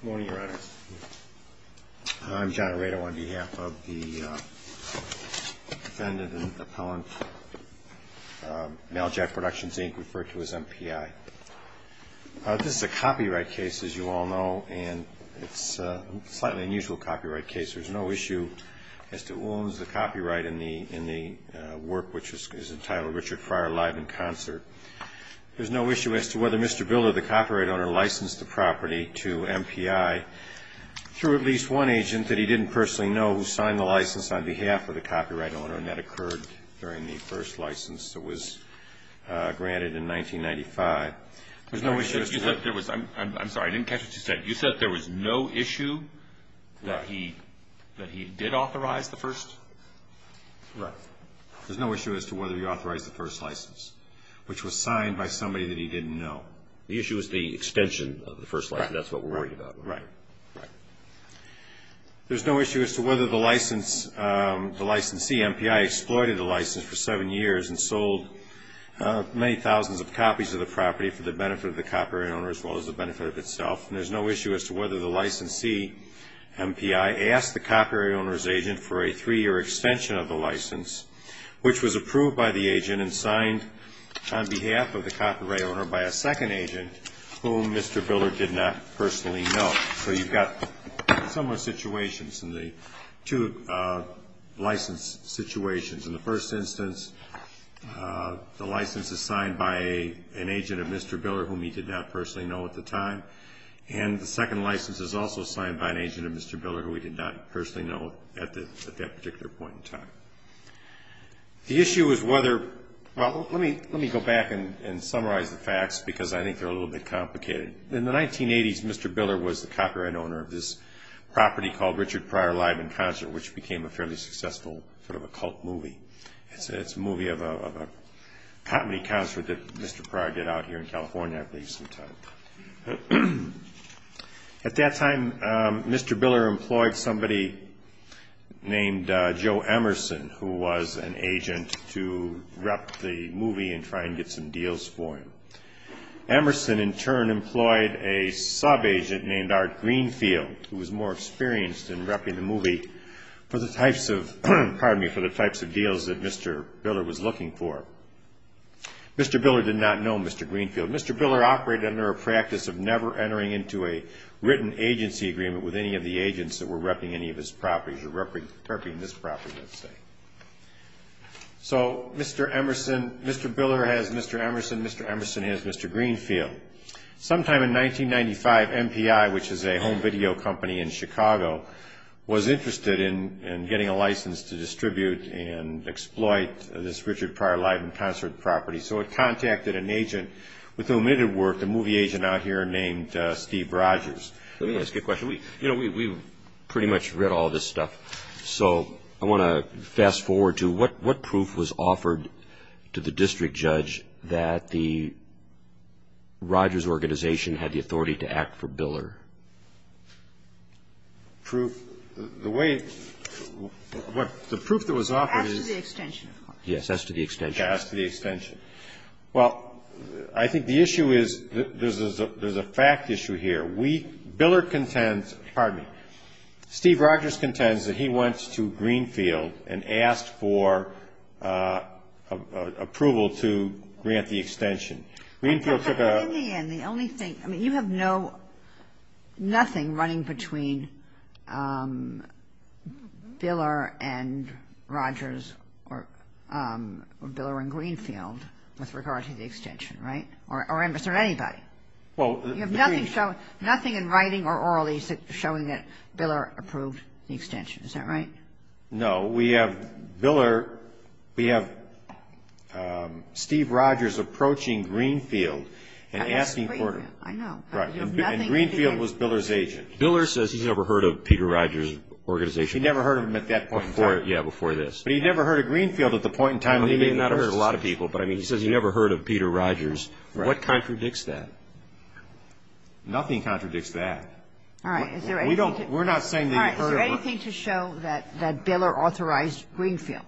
Good morning, Your Honor. I'm John Aredo on behalf of the defendant and appellant, Male Jack Productions, Inc., referred to as MPI. This is a copyright case, as you all know, and it's a slightly unusual copyright case. There's no issue as to who owns the copyright in the work, which is entitled Richard Fryer Live in Concert. There's no issue as to whether Mr. Biller, the copyright owner, licensed the property to MPI through at least one agent that he didn't personally know who signed the license on behalf of the copyright owner. And that occurred during the first license that was granted in 1995. There's no issue as to whether... I'm sorry. I didn't catch what you said. You said there was no issue that he did authorize the first? Right. There's no issue as to whether he authorized the first license, which was signed by somebody that he didn't know. The issue is the extension of the first license. That's what we're worried about. Right. Right. There's no issue as to whether the licensee, MPI, exploited the license for seven years and sold many thousands of copies of the property for the benefit of the copyright owner as well as the benefit of itself. And there's no issue as to whether the licensee, MPI, asked the copyright owner's agent for a three-year extension of the license, which was approved by the agent and signed on behalf of the copyright owner by a second agent whom Mr. Biller did not personally know. So you've got similar situations in the two license situations. In the first instance, the license is signed by an agent of Mr. Biller whom he did not personally know at the time. And the second license is also signed by an agent of Mr. Biller who he did not personally know at that particular point in time. The issue is whether... Well, let me go back and summarize the facts because I think they're a little bit complicated. In the 1980s, Mr. Biller was the copyright owner of this property called Richard Pryor Live in Concert, which became a fairly successful sort of a cult movie. It's a movie of a comedy concert that Mr. Pryor did out here in California, I believe, sometime. At that time, Mr. Biller employed somebody named Joe Emerson who was an agent to rep the movie and try and get some deals for him. Emerson, in turn, employed a sub-agent named Art Greenfield who was more experienced in repping the movie for the types of deals that Mr. Biller was looking for. Mr. Biller did not know Mr. Greenfield. Mr. Biller operated under a practice of never entering into a written agency agreement with any of the agents that were repping any of his properties or repping this property, let's say. So Mr. Biller has Mr. Emerson, Mr. Emerson has Mr. Greenfield. Sometime in 1995, MPI, which is a home video company in Chicago, was interested in getting a license to distribute and exploit this Richard Pryor Live in Concert property. So it contacted an agent with whom it had worked, a movie agent out here named Steve Rogers. Let me ask you a question. You know, we've pretty much read all this stuff. So I want to fast-forward to what proof was offered to the district judge that the Rogers organization had the authority to act for Biller? Proof? The way the proof that was offered is... As to the extension, of course. As to the extension. Well, I think the issue is there's a fact issue here. We, Biller contends, pardon me, Steve Rogers contends that he went to Greenfield and asked for approval to grant the extension. Greenfield took a... With regard to the extension, right? Or was there anybody? Well, the Greenfield... You have nothing in writing or orally showing that Biller approved the extension. Is that right? No. We have Biller, we have Steve Rogers approaching Greenfield and asking for... I know. Right. And Greenfield was Biller's agent. Biller says he's never heard of Peter Rogers' organization. He never heard of him at that point in time. Before, yeah, before this. But he never heard of Greenfield at the point in time... Well, he may not have heard of a lot of people, but, I mean, he says he never heard of Peter Rogers. Right. What contradicts that? Nothing contradicts that. All right. Is there anything to... We don't, we're not saying that he heard of them. All right. Is there anything to show that Biller authorized Greenfield?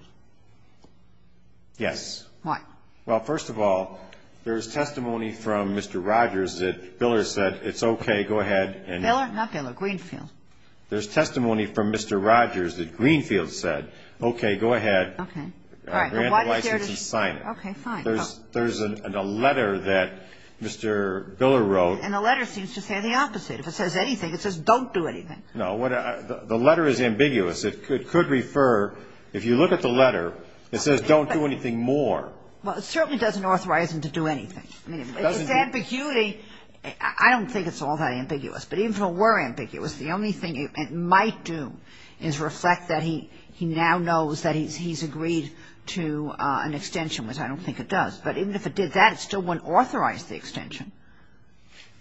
Yes. Why? Well, first of all, there's testimony from Mr. Rogers that Biller said, it's okay, go ahead and... Biller? Not Biller. Greenfield. There's testimony from Mr. Rogers that Greenfield said, okay, go ahead. Okay. All right. Grant the license and sign it. Okay, fine. There's a letter that Mr. Biller wrote. And the letter seems to say the opposite. If it says anything, it says don't do anything. No. The letter is ambiguous. It could refer, if you look at the letter, it says don't do anything more. Well, it certainly doesn't authorize him to do anything. I mean, if it's ambiguity, I don't think it's all that ambiguous. But even if it were ambiguous, the only thing it might do is reflect that he now knows that he's agreed to an extension, which I don't think it does. But even if it did that, it still wouldn't authorize the extension.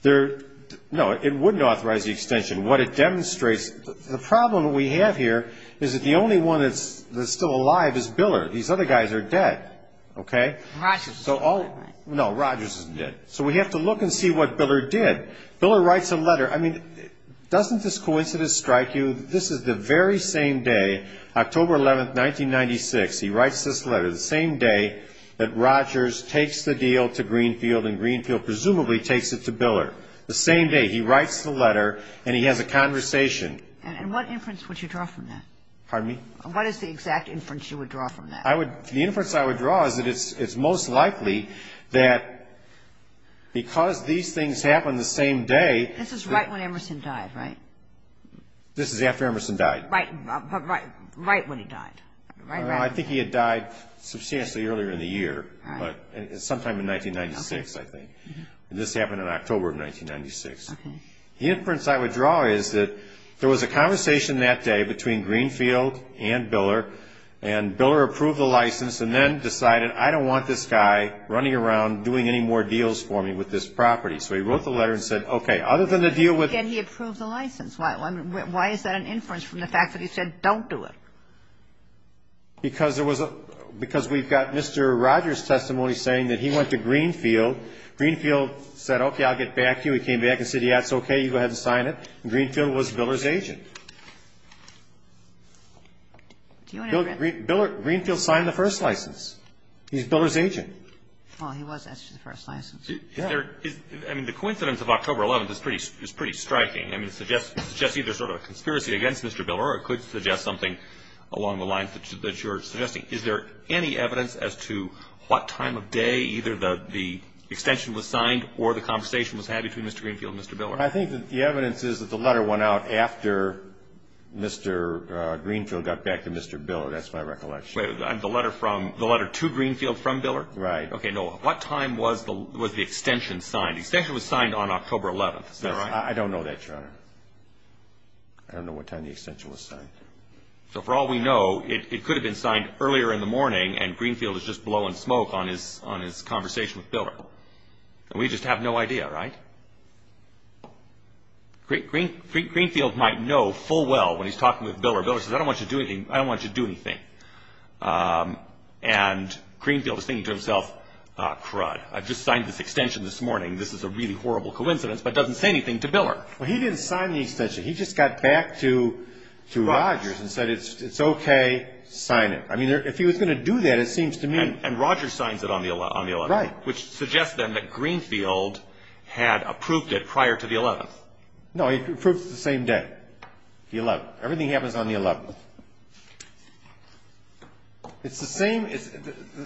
No, it wouldn't authorize the extension. What it demonstrates, the problem we have here is that the only one that's still alive is Biller. These other guys are dead. Okay? Rogers isn't dead, right? No, Rogers isn't dead. So we have to look and see what Biller did. Biller writes a letter. I mean, doesn't this coincidence strike you that this is the very same day, October 11th, 1996, he writes this letter, the same day that Rogers takes the deal to Greenfield and Greenfield presumably takes it to Biller, the same day he writes the letter and he has a conversation. And what inference would you draw from that? Pardon me? What is the exact inference you would draw from that? The inference I would draw is that it's most likely that because these things happened the same day. This is right when Emerson died, right? This is after Emerson died. Right when he died. I think he had died substantially earlier in the year, sometime in 1996, I think. This happened in October of 1996. The inference I would draw is that there was a conversation that day between Greenfield and Biller, and Biller approved the license and then decided, I don't want this guy running around doing any more deals for me with this property. So he wrote the letter and said, okay. Other than the deal with the deal. And he approved the license. Why is that an inference from the fact that he said, don't do it? Because we've got Mr. Rogers' testimony saying that he went to Greenfield. Greenfield said, okay, I'll get back to you. He came back and said, yes, okay, you go ahead and sign it. And Greenfield was Biller's agent. Greenfield signed the first license. He's Biller's agent. Well, he was asked for the first license. Yeah. I mean, the coincidence of October 11th is pretty striking. I mean, it suggests either sort of a conspiracy against Mr. Biller or it could suggest something along the lines that you're suggesting. Is there any evidence as to what time of day either the extension was signed or the conversation was had between Mr. Greenfield and Mr. Biller? Well, I think that the evidence is that the letter went out after Mr. Greenfield got back to Mr. Biller. That's my recollection. The letter to Greenfield from Biller? Right. Okay, no. What time was the extension signed? The extension was signed on October 11th. Is that right? I don't know that, Your Honor. I don't know what time the extension was signed. So for all we know, it could have been signed earlier in the morning and Greenfield is just blowing smoke on his conversation with Biller. And we just have no idea, right? Greenfield might know full well when he's talking with Biller. Biller says, I don't want you to do anything. I don't want you to do anything. And Greenfield is thinking to himself, crud, I just signed this extension this morning. This is a really horrible coincidence, but it doesn't say anything to Biller. Well, he didn't sign the extension. He just got back to Rogers and said, it's okay, sign it. I mean, if he was going to do that, it seems to me. And Rogers signs it on the 11th, which suggests then that Greenfield had approved it prior to the 11th. No, he approved it the same day, the 11th. Everything happens on the 11th.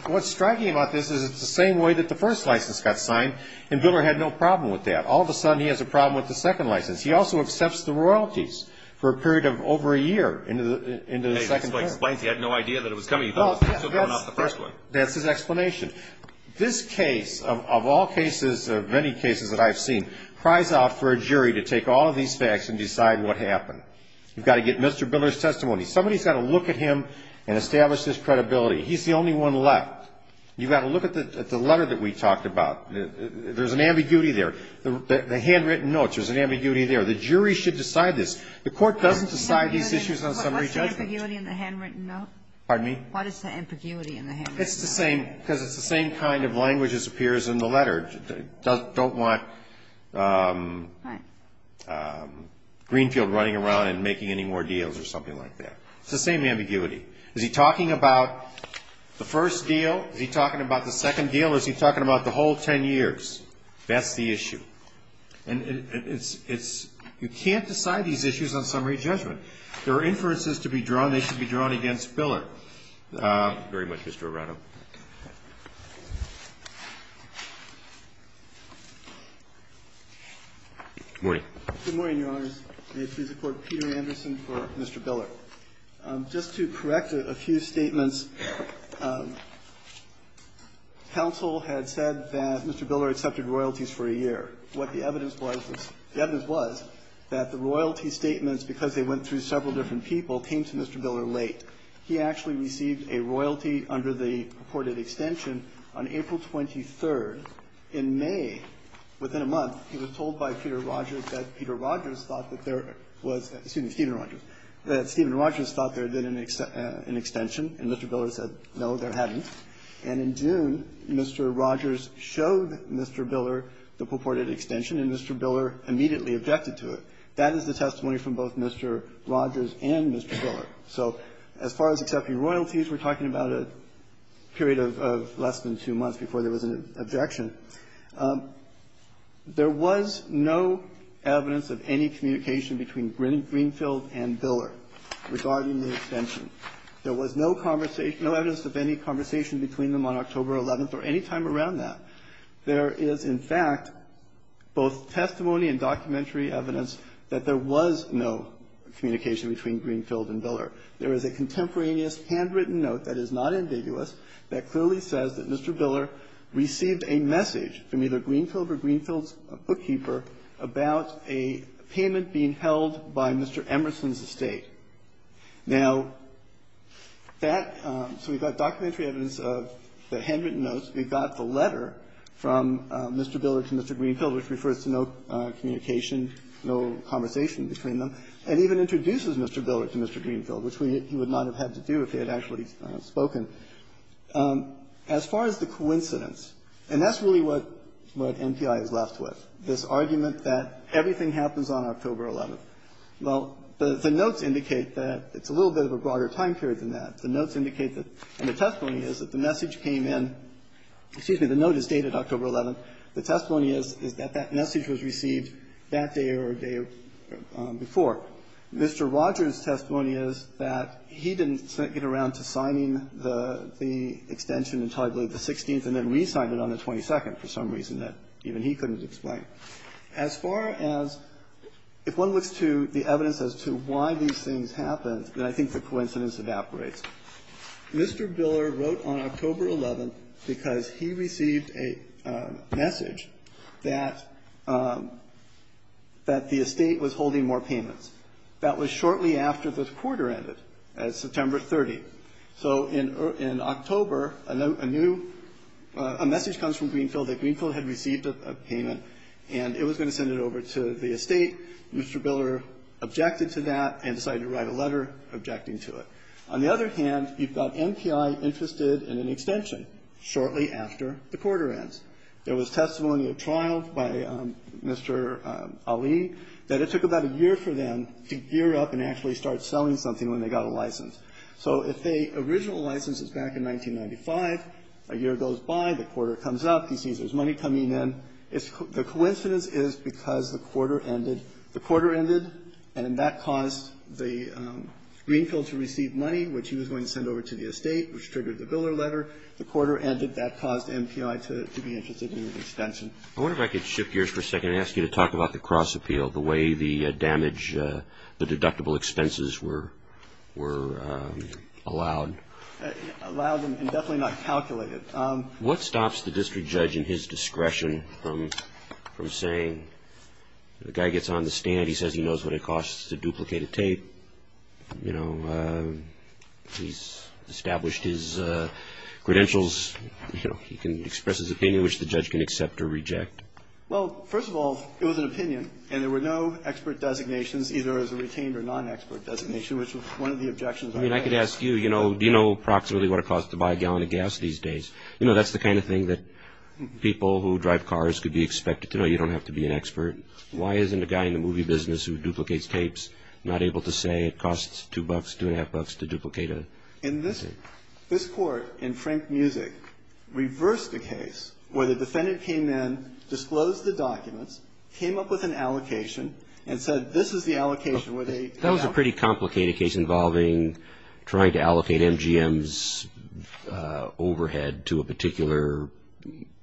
What's striking about this is it's the same way that the first license got signed, and Biller had no problem with that. All of a sudden, he has a problem with the second license. He also accepts the royalties for a period of over a year into the second term. That's what explains he had no idea that it was coming. He thought it was still coming off the first one. That's his explanation. This case, of all cases, of many cases that I've seen, cries out for a jury to take all of these facts and decide what happened. You've got to get Mr. Biller's testimony. Somebody's got to look at him and establish his credibility. He's the only one left. You've got to look at the letter that we talked about. There's an ambiguity there. The handwritten notes, there's an ambiguity there. The jury should decide this. The Court doesn't decide these issues on summary judgment. What is the ambiguity in the handwritten note? Pardon me? What is the ambiguity in the handwritten note? It's the same because it's the same kind of language that appears in the letter. Don't want Greenfield running around and making any more deals or something like that. It's the same ambiguity. Is he talking about the first deal? Is he talking about the second deal? Or is he talking about the whole ten years? That's the issue. You can't decide these issues on summary judgment. There are inferences to be drawn. They should be drawn against Biller. Thank you very much, Mr. Arrato. Good morning. Good morning, Your Honor. May it please the Court. Peter Anderson for Mr. Biller. Just to correct a few statements, counsel had said that Mr. Biller accepted royalties for a year. What the evidence was, the evidence was that the royalty statements, because they went through several different people, came to Mr. Biller late. He actually received a royalty under the purported extension on April 23rd. In May, within a month, he was told by Peter Rogers that Peter Rogers thought that there was — excuse me, Stephen Rogers — that Stephen Rogers thought there had been an extension, and Mr. Biller said, no, there hadn't. And in June, Mr. Rogers showed Mr. Biller the purported extension, and Mr. Biller immediately objected to it. That is the testimony from both Mr. Rogers and Mr. Biller. So as far as accepting royalties, we're talking about a period of less than two months before there was an objection. There was no evidence of any communication between Greenfield and Biller regarding the extension. There was no conversation — no evidence of any conversation between them on October 11th or any time around that. There is, in fact, both testimony and documentary evidence that there was no communication between Greenfield and Biller. There is a contemporaneous handwritten note that is not ambiguous that clearly says that Mr. Biller received a message from either Greenfield or Greenfield's bookkeeper about a payment being held by Mr. Emerson's estate. Now, that — so we've got documentary evidence of the handwritten notes. We've got the letter from Mr. Biller to Mr. Greenfield, which refers to no communication, no conversation between them, and even introduces Mr. Biller to Mr. Greenfield, which he would not have had to do if he had actually spoken. As far as the coincidence, and that's really what MPI is left with, this argument that everything happens on October 11th. Well, the notes indicate that it's a little bit of a broader time period than that. The notes indicate that — and the testimony is that the message came in — excuse me. The note is dated October 11th. The testimony is that that message was received that day or a day before. Mr. Rogers' testimony is that he didn't get around to signing the extension until, I believe, the 16th and then re-signed it on the 22nd for some reason that even he couldn't explain. As far as if one looks to the evidence as to why these things happened, then I think the coincidence evaporates. Mr. Biller wrote on October 11th because he received a message that the estate was holding more payments. That was shortly after the quarter ended, at September 30th. So in October, a new — a message comes from Greenfield that Greenfield had received a payment, and it was going to send it over to the estate. Mr. Biller objected to that and decided to write a letter objecting to it. On the other hand, you've got MPI interested in an extension shortly after the quarter ends. There was testimony of trial by Mr. Ali that it took about a year for them to gear up and actually start selling something when they got a license. So if the original license is back in 1995, a year goes by, the quarter comes up, he sees there's money coming in. The coincidence is because the quarter ended. The quarter ended, and that caused Greenfield to receive money, which he was going to send over to the estate, which triggered the Biller letter. The quarter ended. That caused MPI to be interested in an extension. I wonder if I could shift gears for a second and ask you to talk about the cross appeal, the way the damage, the deductible expenses were allowed. Allowed and definitely not calculated. What stops the district judge in his discretion from saying the guy gets on the stand, he says he knows what it costs to duplicate a tape, you know, he's established his credentials, you know, he can express his opinion, which the judge can accept or reject? Well, first of all, it was an opinion, and there were no expert designations either as a retained or non-expert designation, which was one of the objections I made. I mean, I could ask you, you know, do you know approximately what it costs to buy a gallon of gas these days? You know, that's the kind of thing that people who drive cars could be expected to know. You don't have to be an expert. Why isn't a guy in the movie business who duplicates tapes not able to say it costs two bucks, two and a half bucks to duplicate a tape? This court in Frank Music reversed the case where the defendant came in, allocation. That was a pretty complicated case involving trying to allocate MGM's overhead to a particular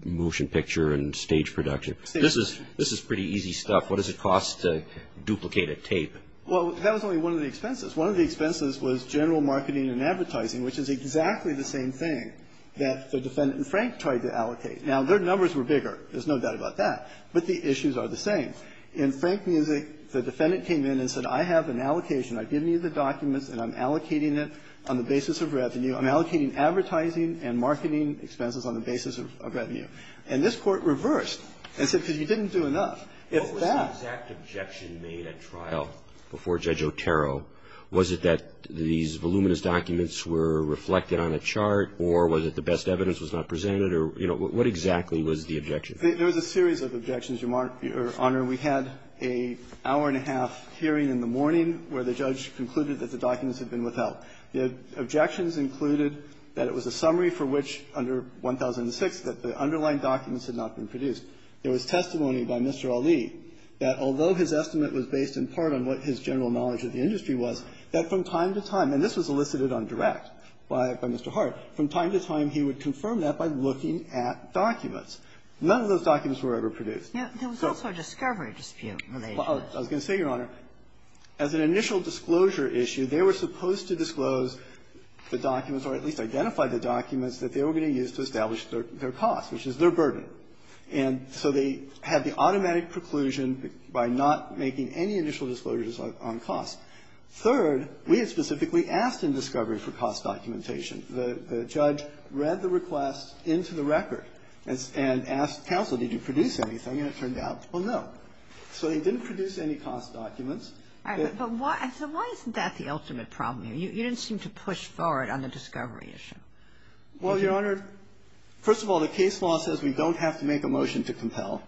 motion picture and stage production. This is pretty easy stuff. What does it cost to duplicate a tape? Well, that was only one of the expenses. One of the expenses was general marketing and advertising, which is exactly the same thing that the defendant in Frank tried to allocate. Now, their numbers were bigger. There's no doubt about that. But the issues are the same. In Frank Music, the defendant came in and said, I have an allocation. I've given you the documents, and I'm allocating it on the basis of revenue. I'm allocating advertising and marketing expenses on the basis of revenue. And this Court reversed and said, because you didn't do enough. If that was the exact objection made at trial before Judge Otero, was it that these voluminous documents were reflected on a chart, or was it the best evidence was not presented, or, you know, what exactly was the objection? There was a series of objections, Your Honor. We had an hour-and-a-half hearing in the morning where the judge concluded that the documents had been withheld. The objections included that it was a summary for which, under 1006, that the underlying documents had not been produced. There was testimony by Mr. Ali that although his estimate was based in part on what his general knowledge of the industry was, that from time to time, and this was elicited on direct by Mr. Hart, from time to time he would confirm that by looking at documents. None of those documents were ever produced. Kagan. Yeah. There was also a discovery dispute. Well, I was going to say, Your Honor, as an initial disclosure issue, they were supposed to disclose the documents, or at least identify the documents that they were going to use to establish their costs, which is their burden. And so they had the automatic preclusion by not making any initial disclosures on costs. Third, we had specifically asked in discovery for cost documentation. The judge read the request into the record and asked counsel, did you produce anything, and it turned out, well, no. So they didn't produce any cost documents. But why isn't that the ultimate problem here? You didn't seem to push forward on the discovery issue. Well, Your Honor, first of all, the case law says we don't have to make a motion to compel.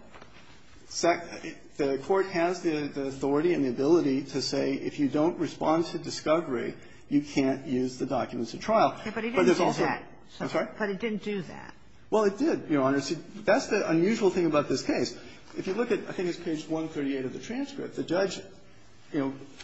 The Court has the authority and the ability to say if you don't respond to discovery, you can't use the documents at trial. But it didn't do that. I'm sorry? But it didn't do that. Well, it did, Your Honor. See, that's the unusual thing about this case. If you look at, I think it's page 138 of the transcript, the judge, you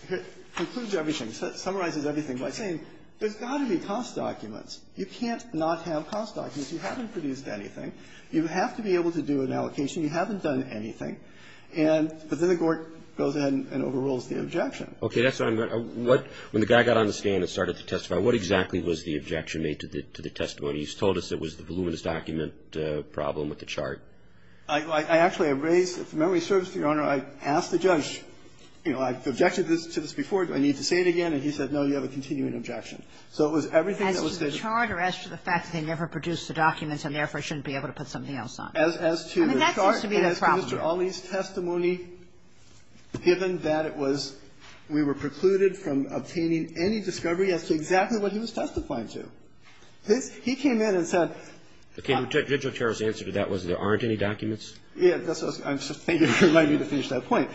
know, concludes everything, summarizes everything by saying there's got to be cost documents. You can't not have cost documents. You haven't produced anything. You have to be able to do an allocation. You haven't done anything. And then the court goes ahead and overrules the objection. Okay. That's what I meant. When the guy got on the stand and started to testify, what exactly was the objection made to the testimony? He's told us it was the voluminous document problem with the chart. I actually have raised, if memory serves, Your Honor, I've asked the judge, you know, I've objected to this before. Do I need to say it again? And he said, no, you have a continuing objection. So it was everything that was stated. As to the chart or as to the fact that they never produced the documents and therefore shouldn't be able to put something else on? As to the chart and as to Mr. Ali's testimony, given that it was we were precluded from obtaining any discovery, as to exactly what he was testifying to. He came in and said. Okay. And Judge Otero's answer to that was there aren't any documents? Yes. I'm just thinking of reminding you to finish that point.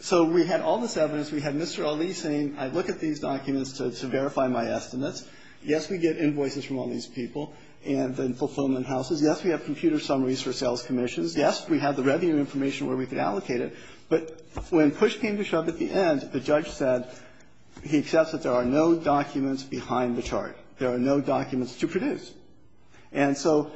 So we had all this evidence. We had Mr. Ali saying, I look at these documents to verify my estimates. Yes, we get invoices from all these people and the fulfillment houses. Yes, we have computer summaries for sales commissions. Yes, we have the revenue information where we could allocate it. But when push came to shove at the end, the judge said, he accepts that there are no documents behind the chart. There are no documents to produce. And so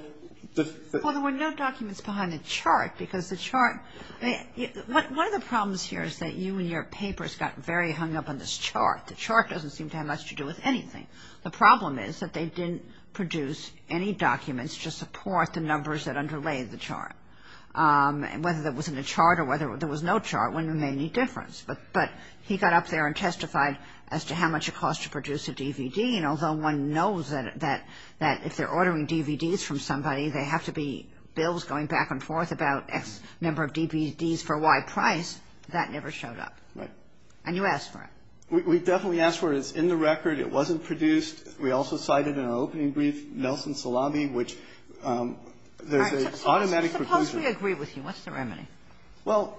the. Well, there were no documents behind the chart because the chart. One of the problems here is that you and your papers got very hung up on this chart. The chart doesn't seem to have much to do with anything. The problem is that they didn't produce any documents to support the numbers that underlay the chart. Whether that was in the chart or whether there was no chart wouldn't have made any difference. But he got up there and testified as to how much it costs to produce a DVD. And although one knows that if they're ordering DVDs from somebody, they have to be bills going back and forth about X number of DVDs for Y price. That never showed up. Right. And you asked for it. We definitely asked for it. It's in the record. It wasn't produced. We also cited in our opening brief Nelson Salabi, which there's an automatic preclusion. Suppose we agree with you. What's the remedy? Well,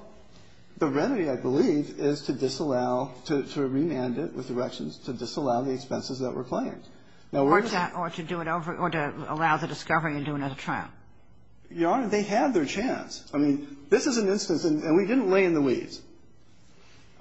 the remedy, I believe, is to disallow, to remand it with erections, to disallow the expenses that were claimed. Or to do it over or to allow the discovery and do another trial. Your Honor, they had their chance. I mean, this is an instance, and we didn't lay in the weeds.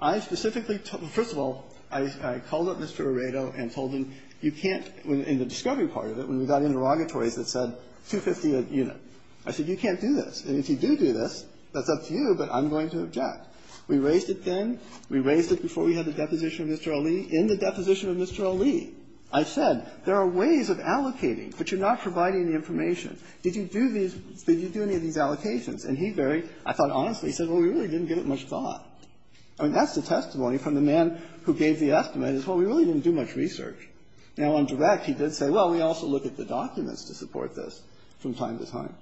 I specifically, first of all, I called up Mr. Aredo and told him you can't, in the discovery part of it, when we got interrogatories that said $250 a unit, I said you can't do this. And if you do do this, that's up to you, but I'm going to object. We raised it then. We raised it before we had the deposition of Mr. Ali. In the deposition of Mr. Ali, I said there are ways of allocating, but you're not providing the information. Did you do these, did you do any of these allocations? And he very, I thought, honestly, he said, well, we really didn't give it much thought. I mean, that's the testimony from the man who gave the estimate is, well, we really didn't do much research. Now, on direct, he did say, well, we also look at the documents to support this from time to time.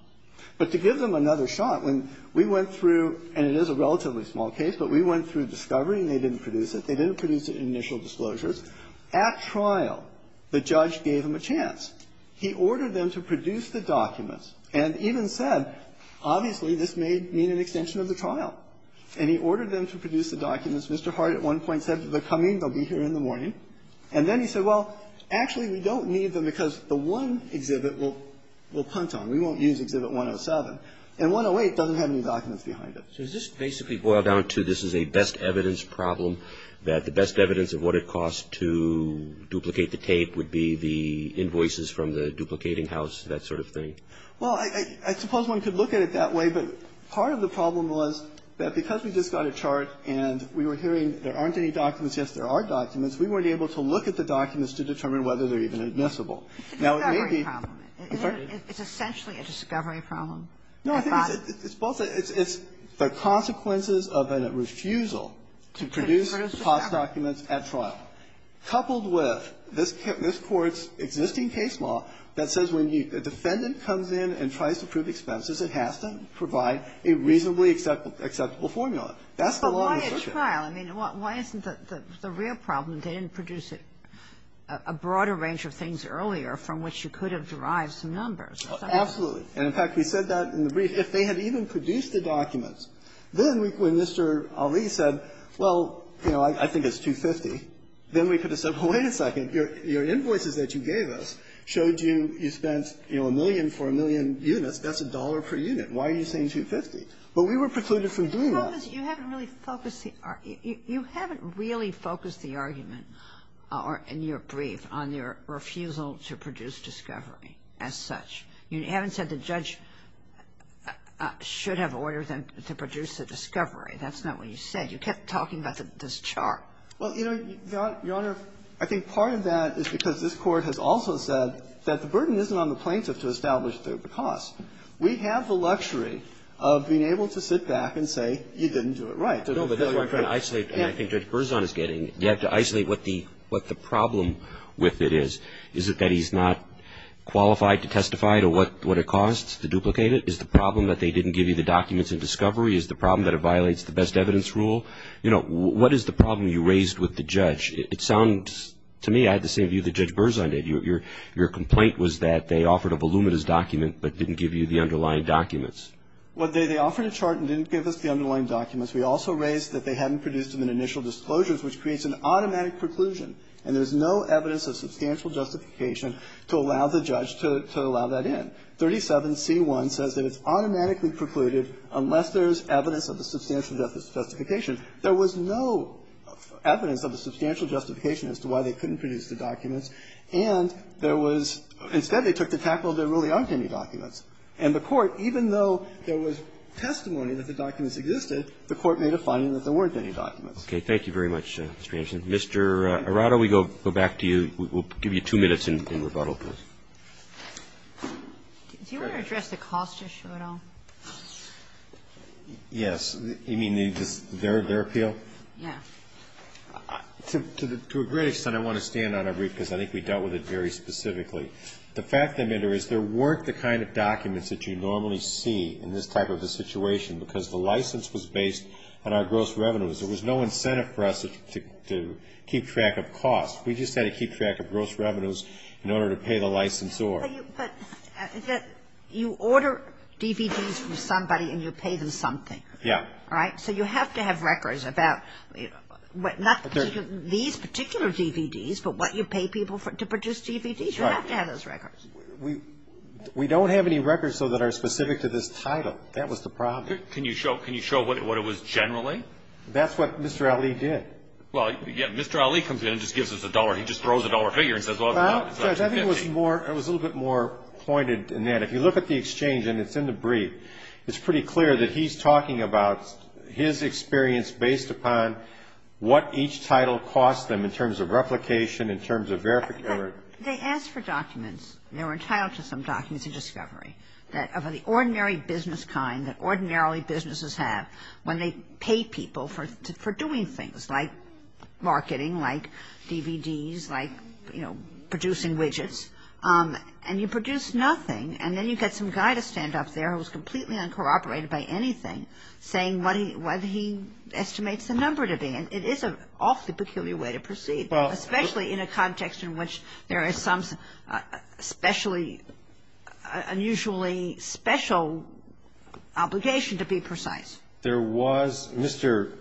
But to give them another shot, when we went through, and it is a relatively small case, but we went through discovery and they didn't produce it, they didn't produce it in initial disclosures. At trial, the judge gave them a chance. He ordered them to produce the documents and even said, obviously, this may mean an extension of the trial. And he ordered them to produce the documents. Mr. Hart at one point said, they're coming, they'll be here in the morning. And then he said, well, actually, we don't need them because the one exhibit will punt on. We won't use exhibit 107. And 108 doesn't have any documents behind it. Roberts. So does this basically boil down to this is a best evidence problem, that the best evidence of what it costs to duplicate the tape would be the invoices from the duplicating house, that sort of thing? Well, I suppose one could look at it that way. But part of the problem was that because we just got a chart and we were hearing there aren't any documents, yes, there are documents, we weren't able to look at the documents to determine whether they're even admissible. Now, it may be — It's a discovery problem. I'm sorry? It's essentially a discovery problem. No, I think it's both. It's the consequences of a refusal to produce the cost documents at trial, coupled with this Court's existing case law that says when the defendant comes in and tries to prove expenses, it has to provide a reasonably acceptable formula. That's the law of assertion. But why a trial? I mean, why isn't the real problem they didn't produce a broader range of things earlier from which you could have derived some numbers? Absolutely. And, in fact, we said that in the brief. If they had even produced the documents, then when Mr. Ali said, well, you know, I think it's $250,000, then we could have said, well, wait a second, your invoices that you gave us showed you you spent, you know, a million for a million units. That's a dollar per unit. Why are you saying $250,000? But we were precluded from doing that. You haven't really focused the argument in your brief on your refusal to produce discovery as such. You haven't said the judge should have ordered them to produce a discovery. That's not what you said. You kept talking about this chart. Well, you know, Your Honor, I think part of that is because this Court has also said that the burden isn't on the plaintiff to establish the cost. We have the luxury of being able to sit back and say you didn't do it right. No, but that's what I'm trying to isolate, and I think Judge Berzon is getting. You have to isolate what the problem with it is. Is it that he's not qualified to testify to what it costs to duplicate it? Is the problem that they didn't give you the documents in discovery? Is the problem that it violates the best evidence rule? You know, what is the problem you raised with the judge? It sounds to me I had the same view that Judge Berzon did. Your complaint was that they offered a voluminous document but didn't give you the underlying documents. Well, they offered a chart and didn't give us the underlying documents. We also raised that they hadn't produced them in initial disclosures, which creates an automatic preclusion, and there's no evidence of substantial justification to allow the judge to allow that in. 37C1 says that it's automatically precluded unless there's evidence of a substantial justification. There was no evidence of a substantial justification as to why they couldn't produce the documents, and there was – instead, they took the tackle, there really aren't any documents. And the Court, even though there was testimony that the documents existed, the Court made a finding that there weren't any documents. Roberts, Jr. Thank you very much, Mr. Hanson. Mr. Arado, we go back to you. We'll give you two minutes in rebuttal, please. Do you want to address the cost issue at all? Yes. You mean their appeal? Yeah. To a great extent, I want to stand on it, Ruth, because I think we dealt with it very specifically. The fact of the matter is there weren't the kind of documents that you normally see in this type of a situation because the license was based on our gross revenues. There was no incentive for us to keep track of costs. We just had to keep track of gross revenues in order to pay the licensor. But you order DVDs from somebody and you pay them something. Yeah. Right? So you have to have records about not these particular DVDs, but what you pay people to produce DVDs. You have to have those records. We don't have any records, though, that are specific to this title. That was the problem. Can you show what it was generally? That's what Mr. Ali did. Well, yeah. Mr. Ali comes in and just gives us a dollar. He just throws a dollar figure and says, well, it's $1,015. Well, I think it was more – it was a little bit more pointed in that if you look at the exchange, and it's in the brief, it's pretty clear that he's talking about his experience based upon what each title cost them in terms of replication, in terms of verification. They asked for documents. They were entitled to some documents in discovery that of the ordinary business kind, that ordinarily businesses have, when they pay people for doing things, like marketing, like DVDs, like, you know, producing widgets. And you produce nothing. And then you get some guy to stand up there who's completely uncorroborated by anything, saying what he estimates the number to be. And it is an awfully peculiar way to proceed, especially in a context in which there is some specially – unusually special obligation, to be precise. There was – Mr.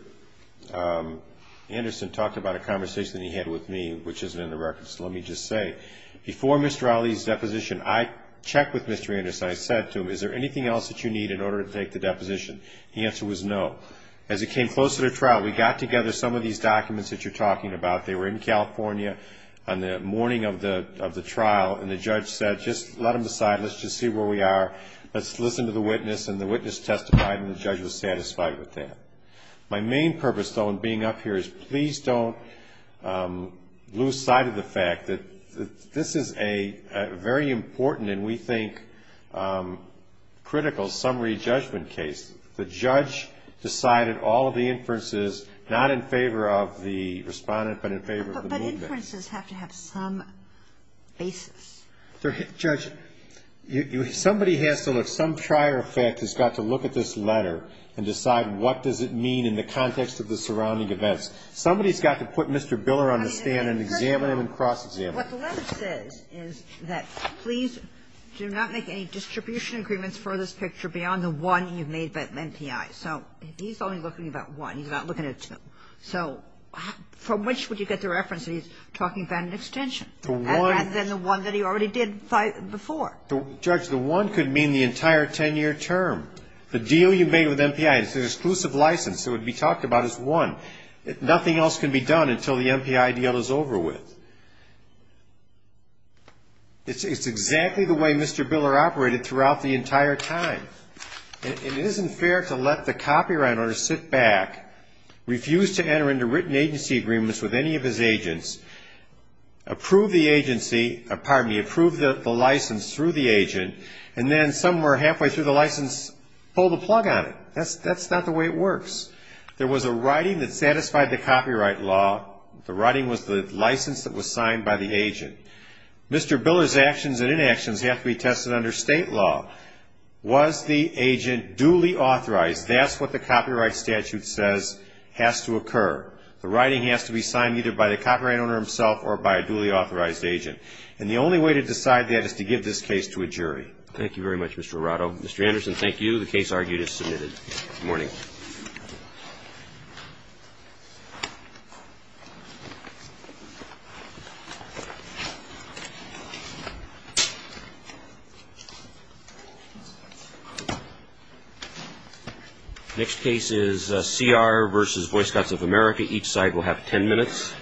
Anderson talked about a conversation that he had with me, which isn't in the records, so let me just say. Before Mr. Ali's deposition, I checked with Mr. Anderson. I said to him, is there anything else that you need in order to take the deposition? The answer was no. As it came closer to trial, we got together some of these documents that you're talking about. They were in California on the morning of the trial. And the judge said, just let them decide. Let's just see where we are. Let's listen to the witness. And the witness testified, and the judge was satisfied with that. My main purpose, though, in being up here is please don't lose sight of the fact that this is a very important and, we think, critical summary judgment case. The judge decided all of the inferences, not in favor of the Respondent, but in favor of the movement. But inferences have to have some basis. Judge, somebody has to look – some trier effect has got to look at this letter and decide what does it mean in the context of the surrounding events. Somebody's got to put Mr. Biller on the stand and examine him and cross-examine him. What the letter says is that please do not make any distribution agreements for this that you've made with the MPI. So, he's only looking at one. He's not looking at two. So, from which would you get the reference that he's talking about an extension? The one – Rather than the one that he already did before. Judge, the one could mean the entire 10-year term. The deal you made with MPI, it's an exclusive license that would be talked about as one. Nothing else can be done until the MPI deal is over with. It's exactly the way Mr. Biller operated throughout the entire time. It isn't fair to let the copyright owner sit back, refuse to enter into written agency agreements with any of his agents, approve the agency – pardon me, approve the license through the agent, and then somewhere halfway through the license pull the plug on it. That's not the way it works. There was a writing that satisfied the copyright law. The writing was the license that was signed by the agent. Mr. Biller's actions and inactions have to be tested under state law. Was the agent duly authorized? That's what the copyright statute says has to occur. The writing has to be signed either by the copyright owner himself or by a duly authorized agent. And the only way to decide that is to give this case to a jury. Thank you very much, Mr. Arado. The case argued is submitted. Good morning. Thank you. Next case is CR v. Boy Scouts of America. Each side will have 10 minutes.